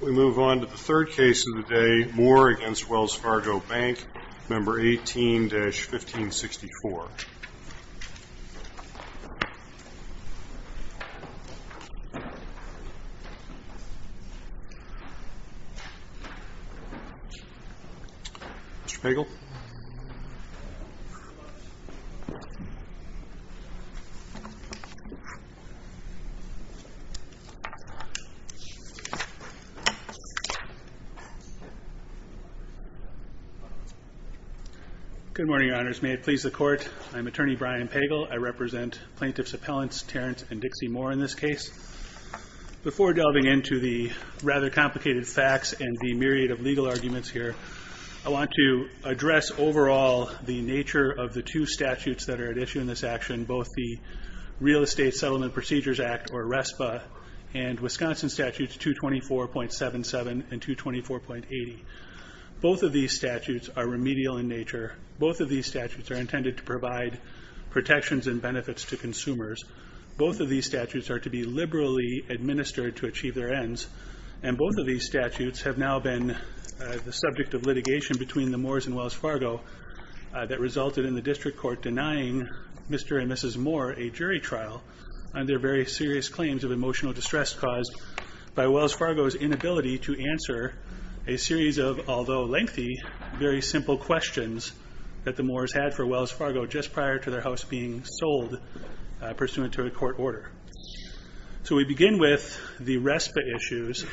We move on to the third case of the day, Moore v. Wells Fargo Bank, N.A. Good morning, Your Honors. May it please the Court, I am Attorney Brian Pagel. I represent Plaintiffs Appellants Terrence and Dixie Moore in this case. Before delving into the rather complicated facts and the myriad of legal arguments here, I want to address overall the nature of the two statutes that are at issue in this action, both the Real Estate Statutes 224.77 and 224.80. Both of these statutes are remedial in nature. Both of these statutes are intended to provide protections and benefits to consumers. Both of these statutes are to be liberally administered to achieve their ends. And both of these statutes have now been the subject of litigation between the Moores and Wells Fargo that resulted in the District Court denying Mr. and Mrs. Moore a jury trial on their very serious claims of emotional distress caused by Wells Fargo's inability to answer a series of, although lengthy, very simple questions that the Moores had for Wells Fargo just prior to their house being sold pursuant to a court order. So we begin with the RESPA issues.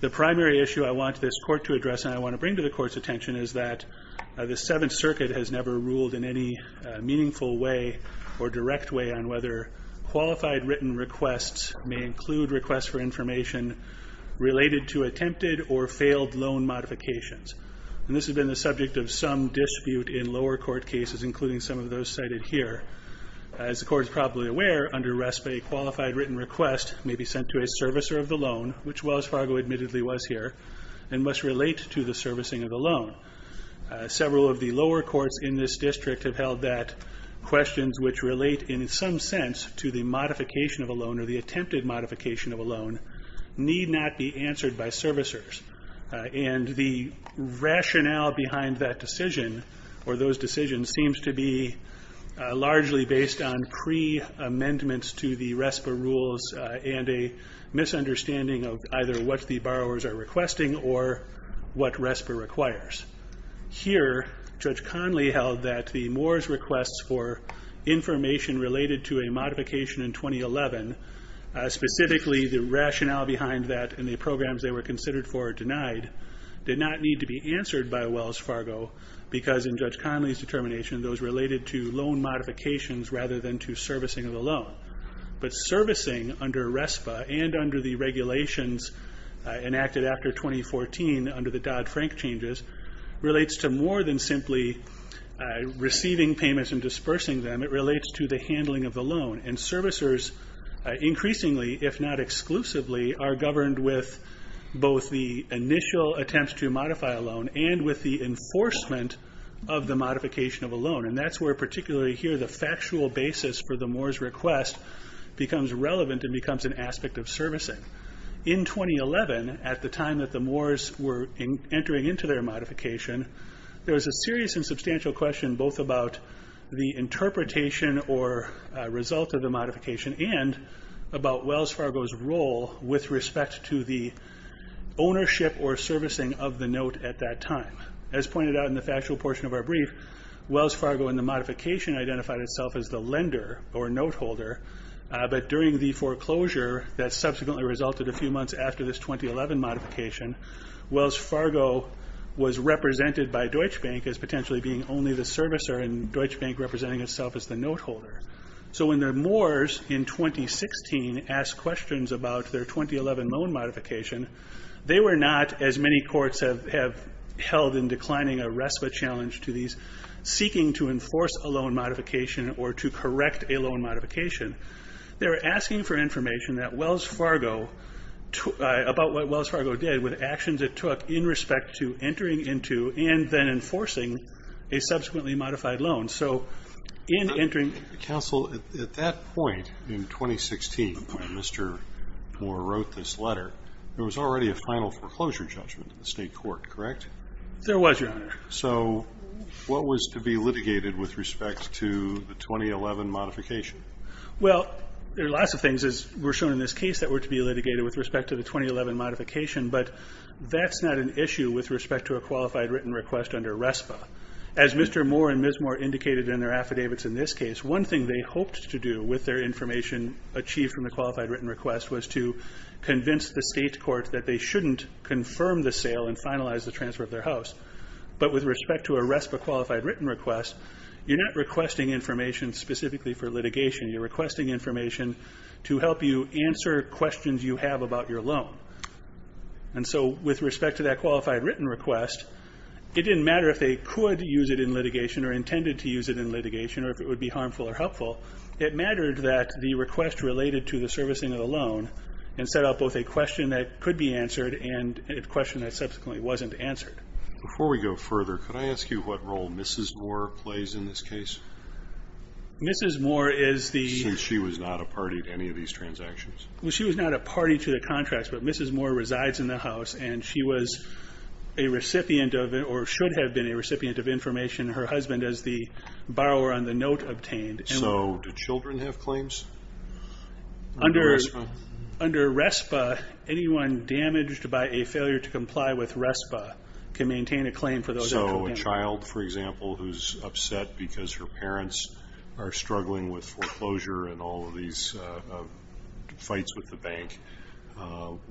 The primary issue I want this Court to address and I want to bring to the Court's attention is that the Seventh Circuit has never ruled in any meaningful way or direct way on whether qualified written requests may include requests for information related to attempted or failed loan modifications. And this has been the subject of some dispute in lower court cases, including some of those cited here. As the Court is probably aware, under RESPA, a qualified written request may be sent to a servicer of the loan, which Wells Fargo admittedly was here, and must relate to the servicing of the loan. Several of the lower courts in this District have held that requests related to the modification of a loan, or the attempted modification of a loan, need not be answered by servicers. And the rationale behind that decision, or those decisions, seems to be largely based on pre-amendments to the RESPA rules and a misunderstanding of either what the borrowers are requesting or what RESPA requires. Here, Judge Conley held that the Moores' requests for information related to a modification in 2011, specifically the rationale behind that and the programs they were considered for or denied, did not need to be answered by Wells Fargo, because in Judge Conley's determination, those related to loan modifications rather than to servicing of the loan. But servicing under RESPA, and under the regulations enacted after 2014 under the Dodd-Frank changes, relates to more than simply receiving payments and dispersing them, it relates to the handling of the loan. And servicers increasingly, if not exclusively, are governed with both the initial attempts to modify a loan and with the enforcement of the modification of a loan. And that's where particularly here the factual basis for the Moores' request becomes relevant and becomes an aspect of servicing. In 2011, at the time that the Moores' were entering into their modification, there was a serious and substantial question both about the interpretation or result of the modification and about Wells Fargo's role with respect to the ownership or servicing of the note at that time. As pointed out in the factual portion of our brief, Wells Fargo in the modification identified itself as the lender or note holder, but during the foreclosure that subsequently resulted a few months after this 2011 modification, Wells Fargo was represented by Deutsche Bank as potentially being only the servicer and Deutsche Bank representing itself as the note holder. So when the Moores, in 2016, asked questions about their 2011 loan modification, they were not, as many courts have held in declining a RESPA challenge to these seeking to enforce a loan modification or to correct a loan modification. They were asking for information that Wells Fargo, about what Wells Fargo did with actions it took in respect to entering into and then enforcing a subsequently modified loan. So in entering... Counsel, at that point in 2016, when Mr. Moore wrote this letter, there was already a final foreclosure judgment in the state court, correct? There was, Your Honor. So what was to be litigated with respect to the 2011 modification? Well, there are lots of things, as we're shown in this case, that were to be litigated with respect to the 2011 modification, but that's not an issue with respect to a qualified written request under RESPA. As Mr. Moore and Ms. Moore indicated in their affidavits in this case, one thing they hoped to do with their information achieved from the qualified written request was to convince the state court that they shouldn't confirm the sale and finalize the transfer of their house. But with respect to a RESPA qualified written request, you're not requesting information specifically for litigation. You're requesting information to help you answer questions you have about your loan. And so with respect to that qualified written request, it didn't matter if they could use it in litigation or intended to use it in litigation or if it would be harmful or helpful. It mattered that the request related to the servicing of the loan and set up both a question that could be answered and a question that subsequently wasn't answered. Before we go further, could I ask you what role Mrs. Moore plays in this case? Mrs. Moore is the... She was not a party to any of these transactions. She was not a party to the contracts, but Mrs. Moore resides in the house and she was a recipient of or should have been a recipient of information her husband, as the borrower on the note, obtained. So do children have claims under RESPA? Under RESPA, anyone damaged by a failure to comply with RESPA can maintain a claim for those that don't. So a child, for example, who's upset because her parents are struggling with foreclosure and all of these fights with the bank,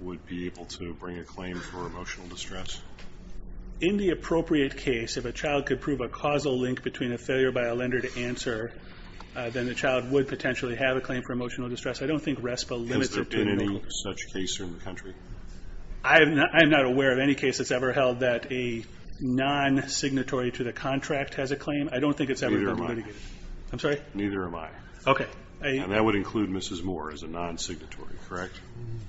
would be able to bring a claim for emotional distress? In the appropriate case, if a child could prove a causal link between a failure by a lender to answer, then the child would potentially have a claim for emotional distress. I don't think RESPA limits it to a link. Has there been any such case in the country? I'm not aware of any case that's ever held that a non-signatory to the contract has a claim. I don't think it's ever been litigated. Neither am I. I'm sorry? And that would include Mrs. Moore as a non-signatory, correct?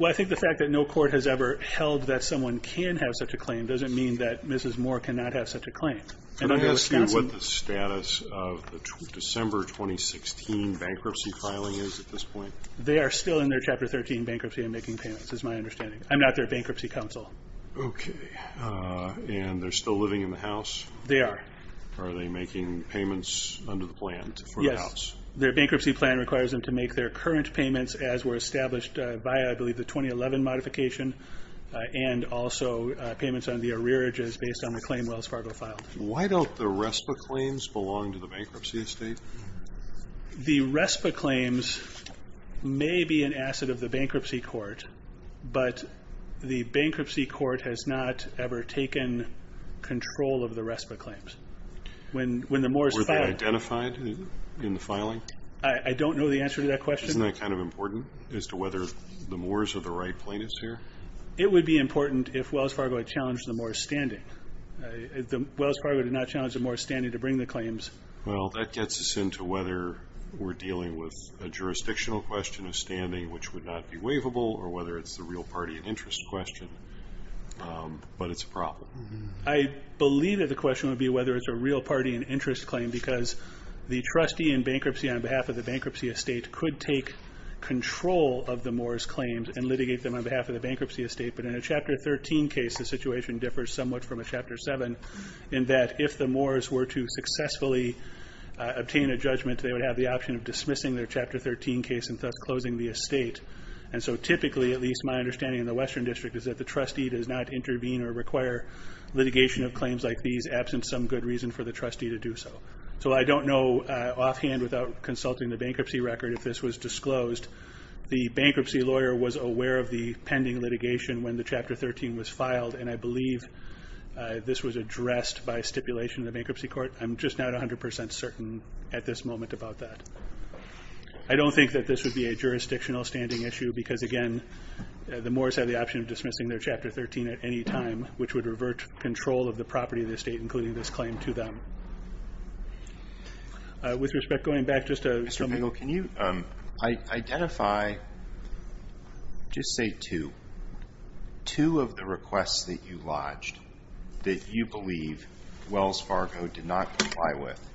Well, I think the fact that no court has ever held that someone can have such a claim doesn't mean that Mrs. Moore cannot have such a claim. Can I ask you what the status of the December 2016 bankruptcy filing is at this point? They are still in their Chapter 13 bankruptcy and making payments, is my understanding. I'm not their bankruptcy counsel. Okay. And they're still living in the house? They are. Are they making payments under the plan for the house? Their bankruptcy plan requires them to make their current payments as were established by, I believe, the 2011 modification and also payments on the arrearages based on the claim Wells Fargo filed. Why don't the RESPA claims belong to the bankruptcy estate? The RESPA claims may be an asset of the bankruptcy court, but the bankruptcy court has not ever taken control of the RESPA claims. When the Moores filed... In the filing? I don't know the answer to that question. Isn't that kind of important as to whether the Moores or the Wright plaintiffs here? It would be important if Wells Fargo had challenged the Moores' standing. Wells Fargo did not challenge the Moores' standing to bring the claims. Well, that gets us into whether we're dealing with a jurisdictional question of standing which would not be waivable or whether it's the real party and interest question, but it's a problem. I believe that the question would be whether it's a real party and interest claim because the trustee in bankruptcy on behalf of the bankruptcy estate could take control of the Moores' claims and litigate them on behalf of the bankruptcy estate, but in a Chapter 13 case, the situation differs somewhat from a Chapter 7 in that if the Moores were to successfully obtain a judgment, they would have the option of dismissing their Chapter 13 case and thus closing the estate. So typically, at least my understanding in the Western District, is that the trustee does not intervene or require litigation of claims like these absent some good reason for the trustee to do so. So I don't know offhand without consulting the bankruptcy record if this was disclosed. The bankruptcy lawyer was aware of the pending litigation when the Chapter 13 was filed and I believe this was addressed by stipulation in the bankruptcy court. I'm just not 100% certain at this moment about that. I don't think that this would be a jurisdictional standing issue because again, the Moores have the option of dismissing their Chapter 13 at any time which would revert control of the property of the estate, including this claim, to them. With respect, going back just to... Mr. Bigel, can you identify, just say two, two of the requests that you lodged that you believe Wells Fargo did not comply with?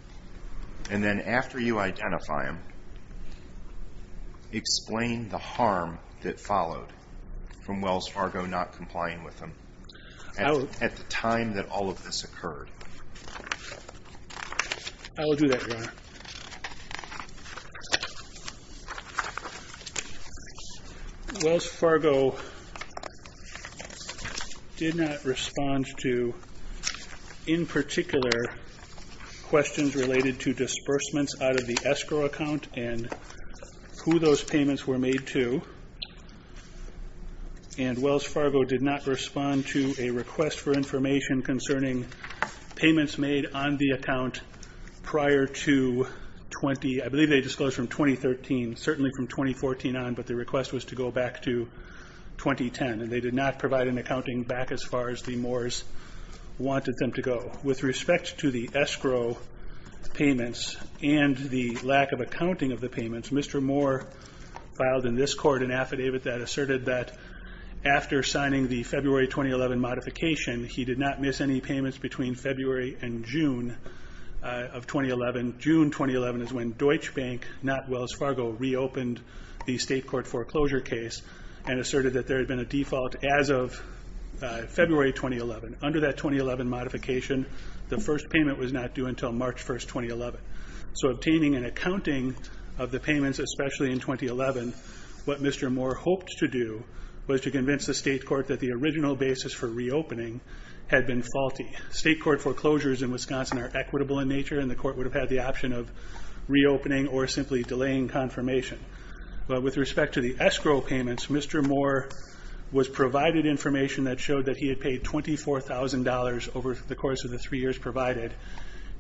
And then after you identify them, explain the harm that followed from Wells Fargo not complying with them. At the time that all of this occurred. I will do that, Your Honor. Wells Fargo did not respond to, in particular, questions related to disbursements out of the escrow account and who those payments were made to. And Wells Fargo did not respond to a request for information concerning payments made on the account prior to 20, I believe they disclosed from 2013, certainly from 2014 on, but the request was to go back to 2010 and they did not provide an accounting back as far as the Moores wanted them to go. With respect to the escrow payments and the lack of accounting of the payments, Mr. Moore filed in this court an affidavit that asserted that after signing the February 2011 modification, he did not miss any payments between February and June of 2011. June 2011 is when Deutsche Bank, not Wells Fargo, reopened the state court foreclosure case and asserted that there had been a default as of February 2011. Under that 2011 modification, the first payment was not due until March 1st, 2011. So obtaining an accounting of the payments, especially in 2011, what Mr. Moore hoped to do was to convince the state court that the original basis for reopening had been faulty. State court foreclosures in Wisconsin are equitable in nature and the court would have had the option of reopening or simply delaying confirmation. But with respect to the escrow payments, Mr. Moore was provided information that showed that he had paid $24,000 over the course of the three years provided.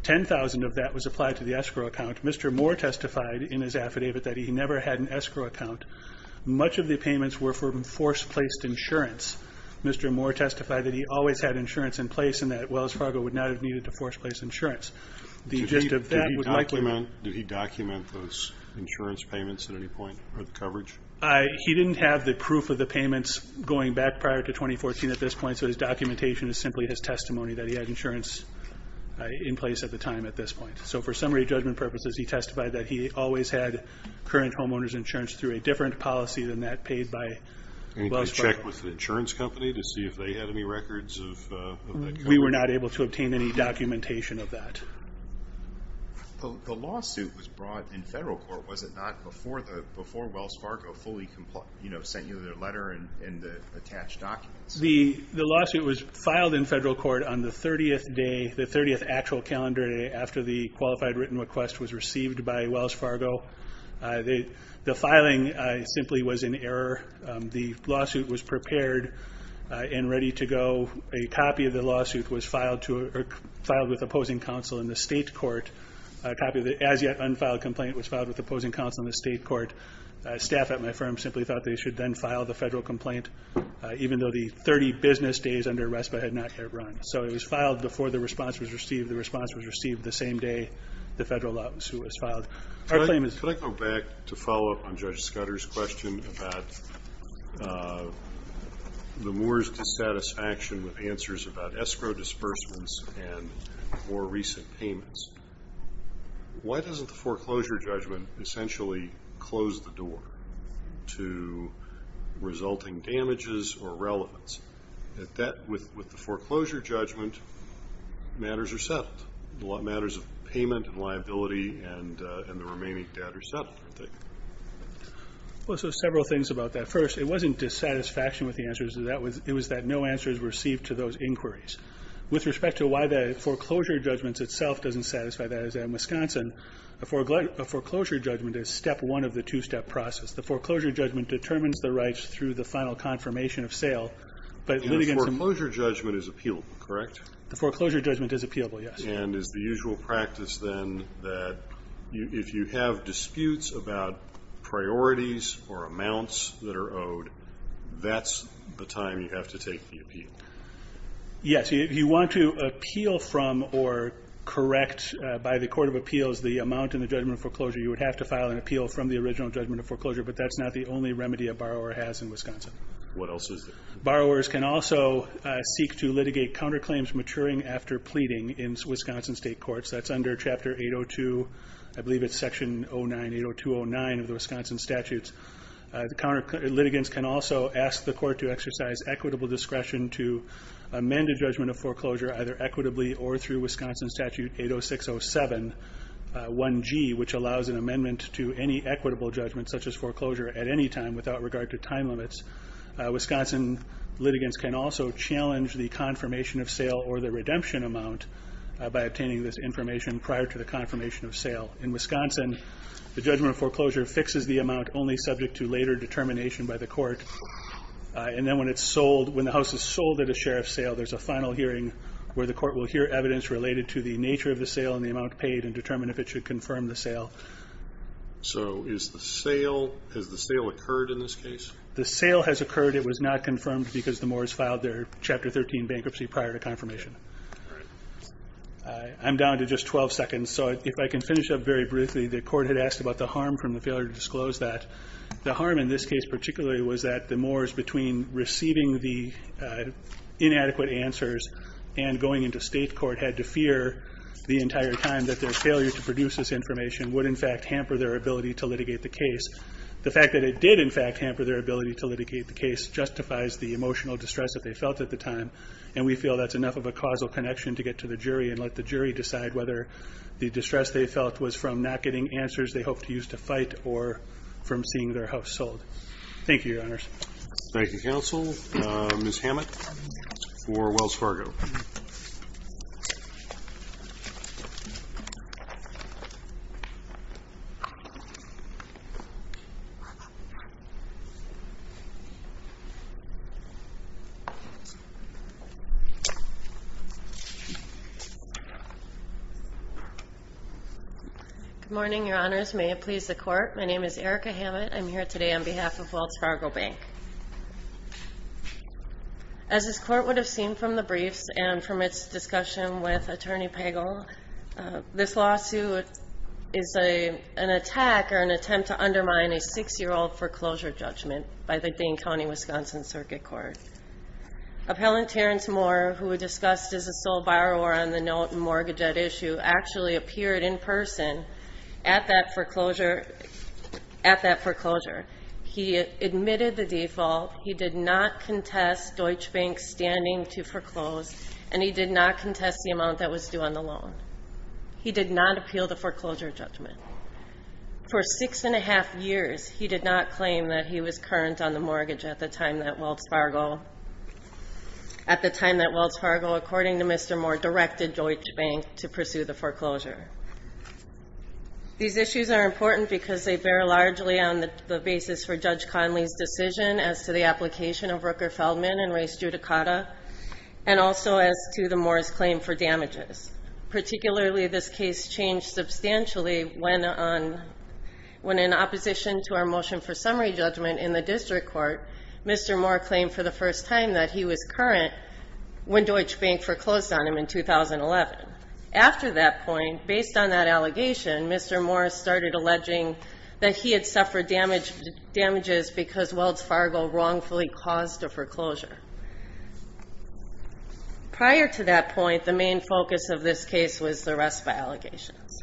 Ten thousand of that was applied to the escrow account. Mr. Moore testified in his affidavit that he never had an escrow account. Much of the payments were from force-placed insurance. Mr. Moore testified that he always had insurance in place and that Wells Fargo would not have needed to force-place insurance. The gist of that would likely- Do he document those insurance payments at any point, or the coverage? He didn't have the proof of the payments going back prior to 2014 at this point, so his documentation is simply his testimony that he had insurance in place at the time at this point. So for summary judgment purposes, he testified that he always had current homeowner's insurance through a different policy than that paid by Wells Fargo. And he could check with the insurance company to see if they had any records of that coverage? We were not able to obtain any documentation of that. The lawsuit was brought in federal court, was it not, before Wells Fargo fully sent you their letter and the attached documents? The lawsuit was filed in federal court on the 30th day, the 30th actual calendar day after the qualified written request was received by Wells Fargo. The filing simply was in error. The lawsuit was prepared and ready to go. A copy of the lawsuit was filed with opposing counsel in the state court. A copy of the as-yet-unfiled complaint was filed with opposing counsel in the state court. Staff at my firm simply thought they should then file the federal complaint, even though the 30 business days under RESPA had not yet run. So it was filed before the response was received. The response was received the same day the federal lawsuit was filed. Can I go back to follow up on Judge Scudder's question about the Moore's dissatisfaction with answers about escrow disbursements and more recent payments? Why doesn't the foreclosure judgment essentially close the door to resulting damages or relevance? With the foreclosure judgment, matters are settled. Matters of payment and liability and the remaining debt are settled, aren't they? Well, so several things about that. First, it wasn't dissatisfaction with the answers. It was that no answers were received to those inquiries. With respect to why the foreclosure judgment itself doesn't satisfy that, as in Wisconsin, a foreclosure judgment is step one of the two-step process. The foreclosure judgment determines the rights through the final confirmation of sale. But it would, again, some... The foreclosure judgment is appealable, correct? The foreclosure judgment is appealable, yes. And is the usual practice, then, that if you have disputes about priorities or amounts that are owed, that's the time you have to take the appeal? Yes. If you want to appeal from or correct by the Court of Appeals the amount in the judgment of foreclosure, you would have to file an appeal from the original judgment of foreclosure. But that's not the only remedy a borrower has in Wisconsin. What else is there? Borrowers can also seek to litigate counterclaims maturing after pleading in Wisconsin state courts. That's under Chapter 802, I believe it's Section 09, 802.09 of the Wisconsin statutes. The counter... Litigants can also ask the court to exercise equitable discretion to amend a judgment of foreclosure either equitably or through Wisconsin Statute 806.07.1G, which allows an amendment to any equitable judgment, such as foreclosure, at any time without regard to time limits. Wisconsin litigants can also challenge the confirmation of sale or the redemption amount by obtaining this information prior to the confirmation of sale. In Wisconsin, the judgment of foreclosure fixes the amount only subject to later determination by the court. And then when it's sold, when the house is sold at a share of sale, there's a final hearing where the court will hear evidence related to the nature of the sale and the amount paid and determine if it should confirm the sale. So is the sale, has the sale occurred in this case? The sale has occurred. It was not confirmed because the moors filed their Chapter 13 bankruptcy prior to confirmation. I'm down to just 12 seconds. So if I can finish up very briefly, the court had asked about the harm from the failure to disclose that. The harm in this case particularly was that the moors between receiving the inadequate answers and going into state court had to fear the entire time that their failure to produce this information would in fact hamper their ability to litigate the case. The fact that it did in fact hamper their ability to litigate the case justifies the emotional distress that they felt at the time. And we feel that's enough of a causal connection to get to the jury and let the jury decide whether the distress they felt was from not getting answers they hoped to use to fight or from seeing their house sold. Thank you, Your Honors. Thank you, Counsel. Ms. Hammett for Wells Fargo. Good morning, Your Honors. May it please the Court. My name is Erica Hammett. I'm here today on behalf of Wells Fargo Bank. As this Court would have seen from the briefs and from its discussion with Attorney Pagel, this lawsuit is an attack or an attempt to undermine a six-year-old foreclosure judgment by the Dane County, Wisconsin Circuit Court. Appellant Terrence Moore, who was discussed as a sole borrower on the note and mortgage at issue, actually appeared in person at that foreclosure. He admitted the default. He did not contest Deutsche Bank's standing to foreclose, and he did not contest the amount that was due on the loan. He did not appeal the foreclosure judgment. For six and a half years, he did not claim that he was current on the mortgage at the time that Wells Fargo, according to Mr. Moore, directed Deutsche Bank to pursue the foreclosure. These issues are important because they bear largely on the basis for Judge Conley's decision as to the application of Rooker-Feldman and race judicata, and also as to the Moore's claim for damages. Particularly, this case changed substantially when, in opposition to our motion for summary judgment in the district court, Mr. Moore claimed for the first time that he was current when Deutsche Bank foreclosed on him in 2011. After that point, based on that allegation, Mr. Moore started alleging that he had suffered damages because Wells Fargo wrongfully caused a foreclosure. Prior to that point, the main focus of this case was the RESPA allegations.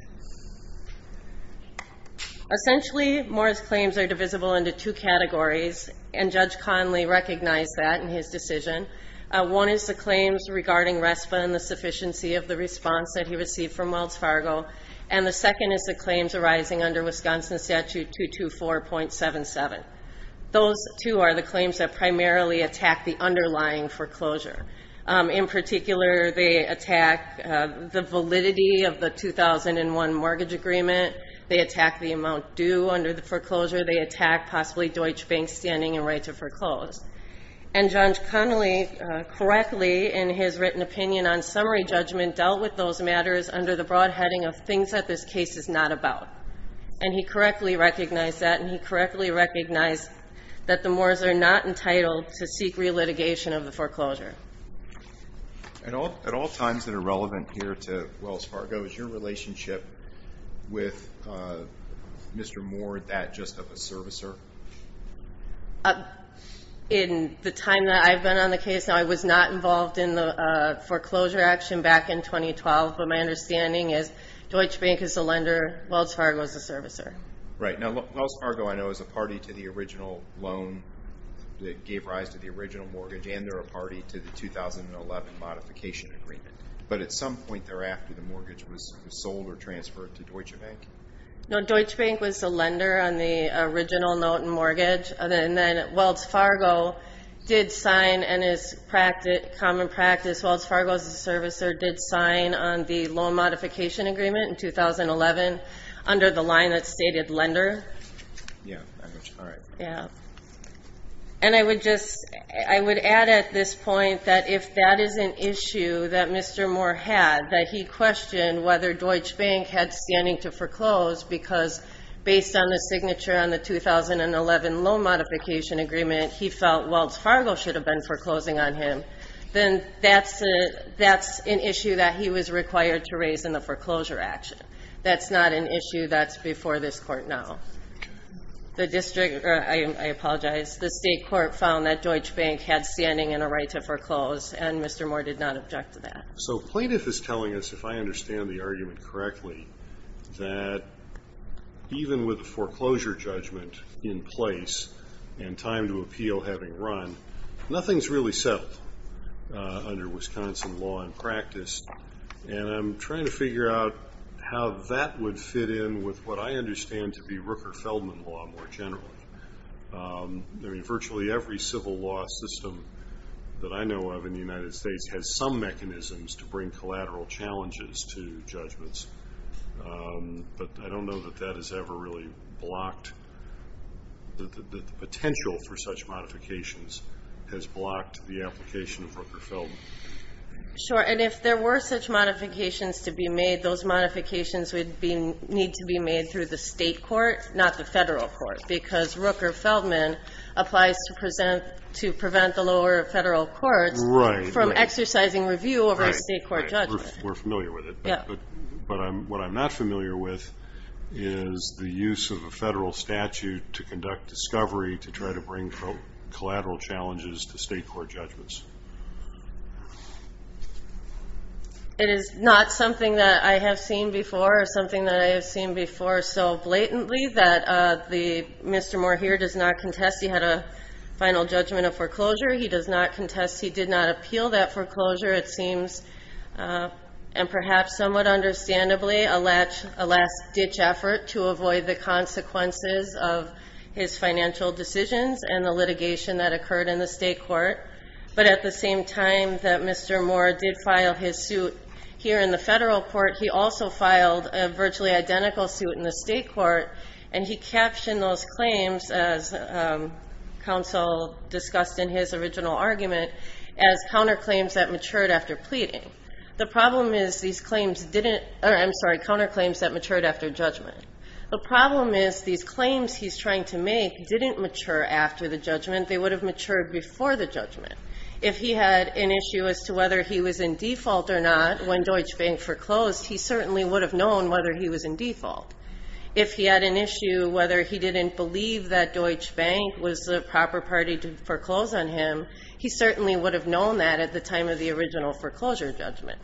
Essentially, Moore's claims are divisible into two categories, and Judge Conley recognized that in his decision. One is the claims regarding RESPA and the sufficiency of the response that he received from Wells Fargo, and the second is the claims arising under Wisconsin Statute 224.77. Those two are the claims that primarily attack the underlying foreclosure. In particular, they attack the validity of the 2001 mortgage agreement. They attack the amount due under the foreclosure. They attack, possibly, Deutsche Bank's standing and right to foreclose. And Judge Conley correctly, in his written opinion on summary judgment, dealt with those matters under the broad heading of things that this case is not about, and he correctly recognized that, and he correctly recognized that the Moores are not entitled to seek relitigation of the foreclosure. At all times that are relevant here to Wells Fargo, is your relationship with Mr. Moore that just of a servicer? In the time that I've been on the case, I was not involved in the foreclosure action back in 2012, but my understanding is Deutsche Bank is a lender, Wells Fargo is a servicer. Right. Now, Wells Fargo, I know, is a party to the original loan that gave rise to the original mortgage, and they're a party to the 2011 modification agreement. But at some point thereafter, the mortgage was sold or transferred to Deutsche Bank? No, Deutsche Bank was a lender on the original note and mortgage, and then Wells Fargo did sign, and is common practice, Wells Fargo, as a servicer, did sign on the loan modification agreement in 2011 under the line that stated lender. Yeah, all right. Yeah. And I would add at this point that if that is an issue that Mr. Moore had, that he questioned whether Deutsche Bank had standing to foreclose, because based on the signature on the 2011 loan modification agreement, he felt Wells Fargo should have been foreclosing on him, then that's an issue that he was required to raise in the foreclosure action. That's not an issue that's before this court now. The district, I apologize, the state court found that Deutsche Bank had standing and a right to foreclose, and Mr. Moore did not object to that. So plaintiff is telling us, if I understand the argument correctly, that even with a foreclosure judgment in place and time to appeal having run, nothing's really settled under Wisconsin law and practice, and I'm trying to figure out how that would fit in with what I understand to be Rooker-Feldman law more generally. Virtually every civil law system that I know of in the United States has some mechanisms to bring collateral challenges to judgments, but I don't know that that has ever really blocked, that the potential for such modifications has blocked the application of Rooker-Feldman. Sure, and if there were such modifications to be made, those modifications would need to be made through the state court, not the federal court, because Rooker-Feldman applies to prevent the lower federal courts from exercising review over a state court judgment. Right, right. We're familiar with it. Yeah. But what I'm not familiar with is the use of a federal statute to conduct discovery to try to bring collateral challenges to state court judgments. It is not something that I have seen before, or something that I have seen before so blatantly that Mr. Moore here does not contest he had a final judgment of foreclosure. He does not contest he did not appeal that foreclosure. It seems, and perhaps somewhat understandably, a last-ditch effort to avoid the consequences of his financial decisions and the litigation that occurred in the state court. But at the same time that Mr. Moore did file his suit here in the federal court, he also filed a virtually identical suit in the state court, and he captioned those claims, as counsel discussed in his original argument, as counterclaims that matured after pleading. The problem is these claims didn't, or I'm sorry, counterclaims that matured after judgment. The problem is these claims he's trying to make didn't mature after the judgment. They would have matured before the judgment. If he had an issue as to whether he was in default or not when Deutsche Bank foreclosed, he certainly would have known whether he was in default. If he had an issue whether he didn't believe that Deutsche Bank was the proper party to foreclose on him, he certainly would have known that at the time of the original foreclosure judgment.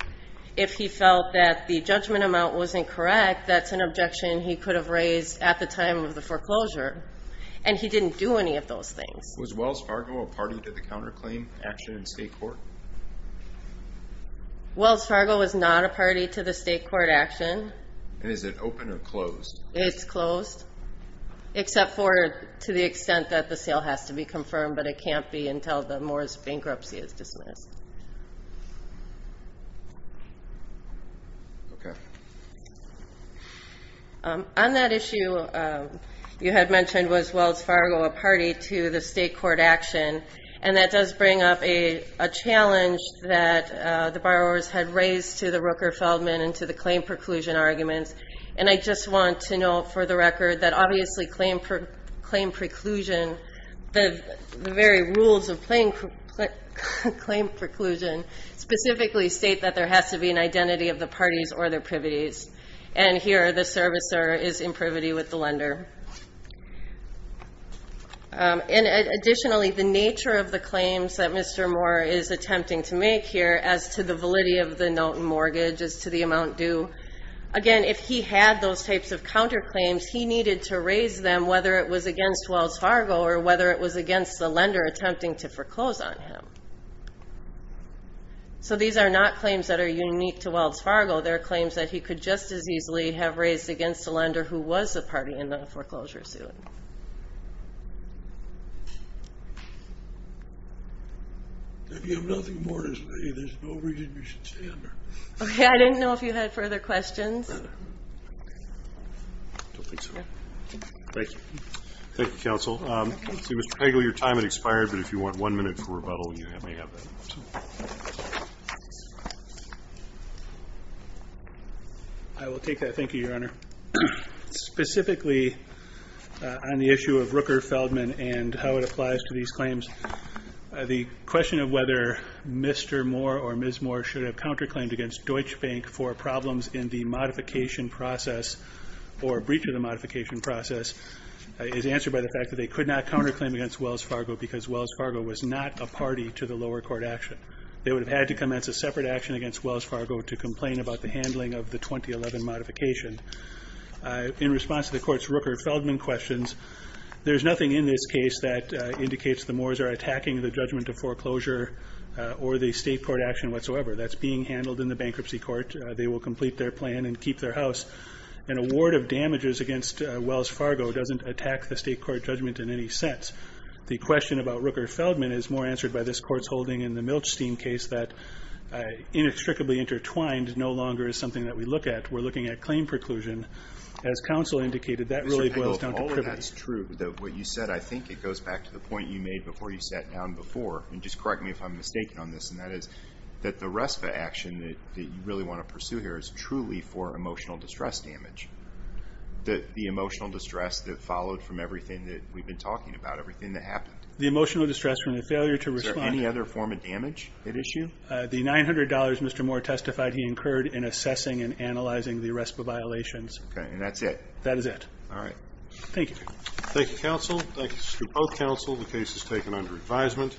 If he felt that the judgment amount wasn't correct, that's an objection he could have raised at the time of the foreclosure, and he didn't do any of those things. Was Wells Fargo a party to the counterclaim action in state court? Wells Fargo is not a party to the state court action. Is it open or closed? It's closed, except for to the extent that the sale has to be confirmed, but it can't be until the Moore's bankruptcy is dismissed. On that issue, you had mentioned was Wells Fargo a party to the state court action, and that does bring up a challenge that the borrowers had raised to the Rooker-Feldman and to the claim preclusion arguments, and I just want to note for the record that obviously claim preclusion, the very rules of claim preclusion specifically state that there has to be an identity of the parties or their privities, and here the servicer is in privity with the lender. And additionally, the nature of the claims that Mr. Moore is attempting to make here as to the validity of the note and mortgage as to the amount due, again, if he had those types of counterclaims, he needed to raise them whether it was against Wells Fargo or whether it was against the lender attempting to foreclose on him. So these are not claims that are unique to Wells Fargo. They're claims that he could just as easily have raised against the lender who was the party in the foreclosure suit. If you have nothing more to say, there's no reason you should stay under. Okay, I didn't know if you had further questions. I don't think so. Thank you, counsel. Mr. Pagle, your time has expired, but if you want one minute for rebuttal, you may have that. I will take that. Thank you, Your Honor. Specifically, on the issue of Rooker-Feldman and how it applies to these claims, the question of whether Mr. Moore or Ms. Moore should have counterclaimed against Deutsche Bank for problems in the modification process or breach of the modification process is answered by the fact that they could not counterclaim against Wells Fargo because Wells Fargo was not a party to the lower court action. They would have had to commence a separate action against Wells Fargo to complain about the handling of the 2011 modification. In response to the court's Rooker-Feldman questions, there's nothing in this case that goes against the judgment of foreclosure or the state court action whatsoever. That's being handled in the bankruptcy court. They will complete their plan and keep their house. An award of damages against Wells Fargo doesn't attack the state court judgment in any sense. The question about Rooker-Feldman is more answered by this court's holding in the Milchstein case that, inextricably intertwined, no longer is something that we look at. We're looking at claim preclusion. As counsel indicated, that really boils down to privilege. Mr. Pagle, if all of that's true, that what you said, I think it goes back to the point you made before you sat down before, and just correct me if I'm mistaken on this, and that is that the RESPA action that you really want to pursue here is truly for emotional distress damage. The emotional distress that followed from everything that we've been talking about, everything that happened. The emotional distress from the failure to respond. Is there any other form of damage at issue? The $900, Mr. Moore testified, he incurred in assessing and analyzing the RESPA violations. Okay, and that's it? That is it. All right. Thank you. Thank you, counsel. Thank you to both counsel. The case is taken under advisement.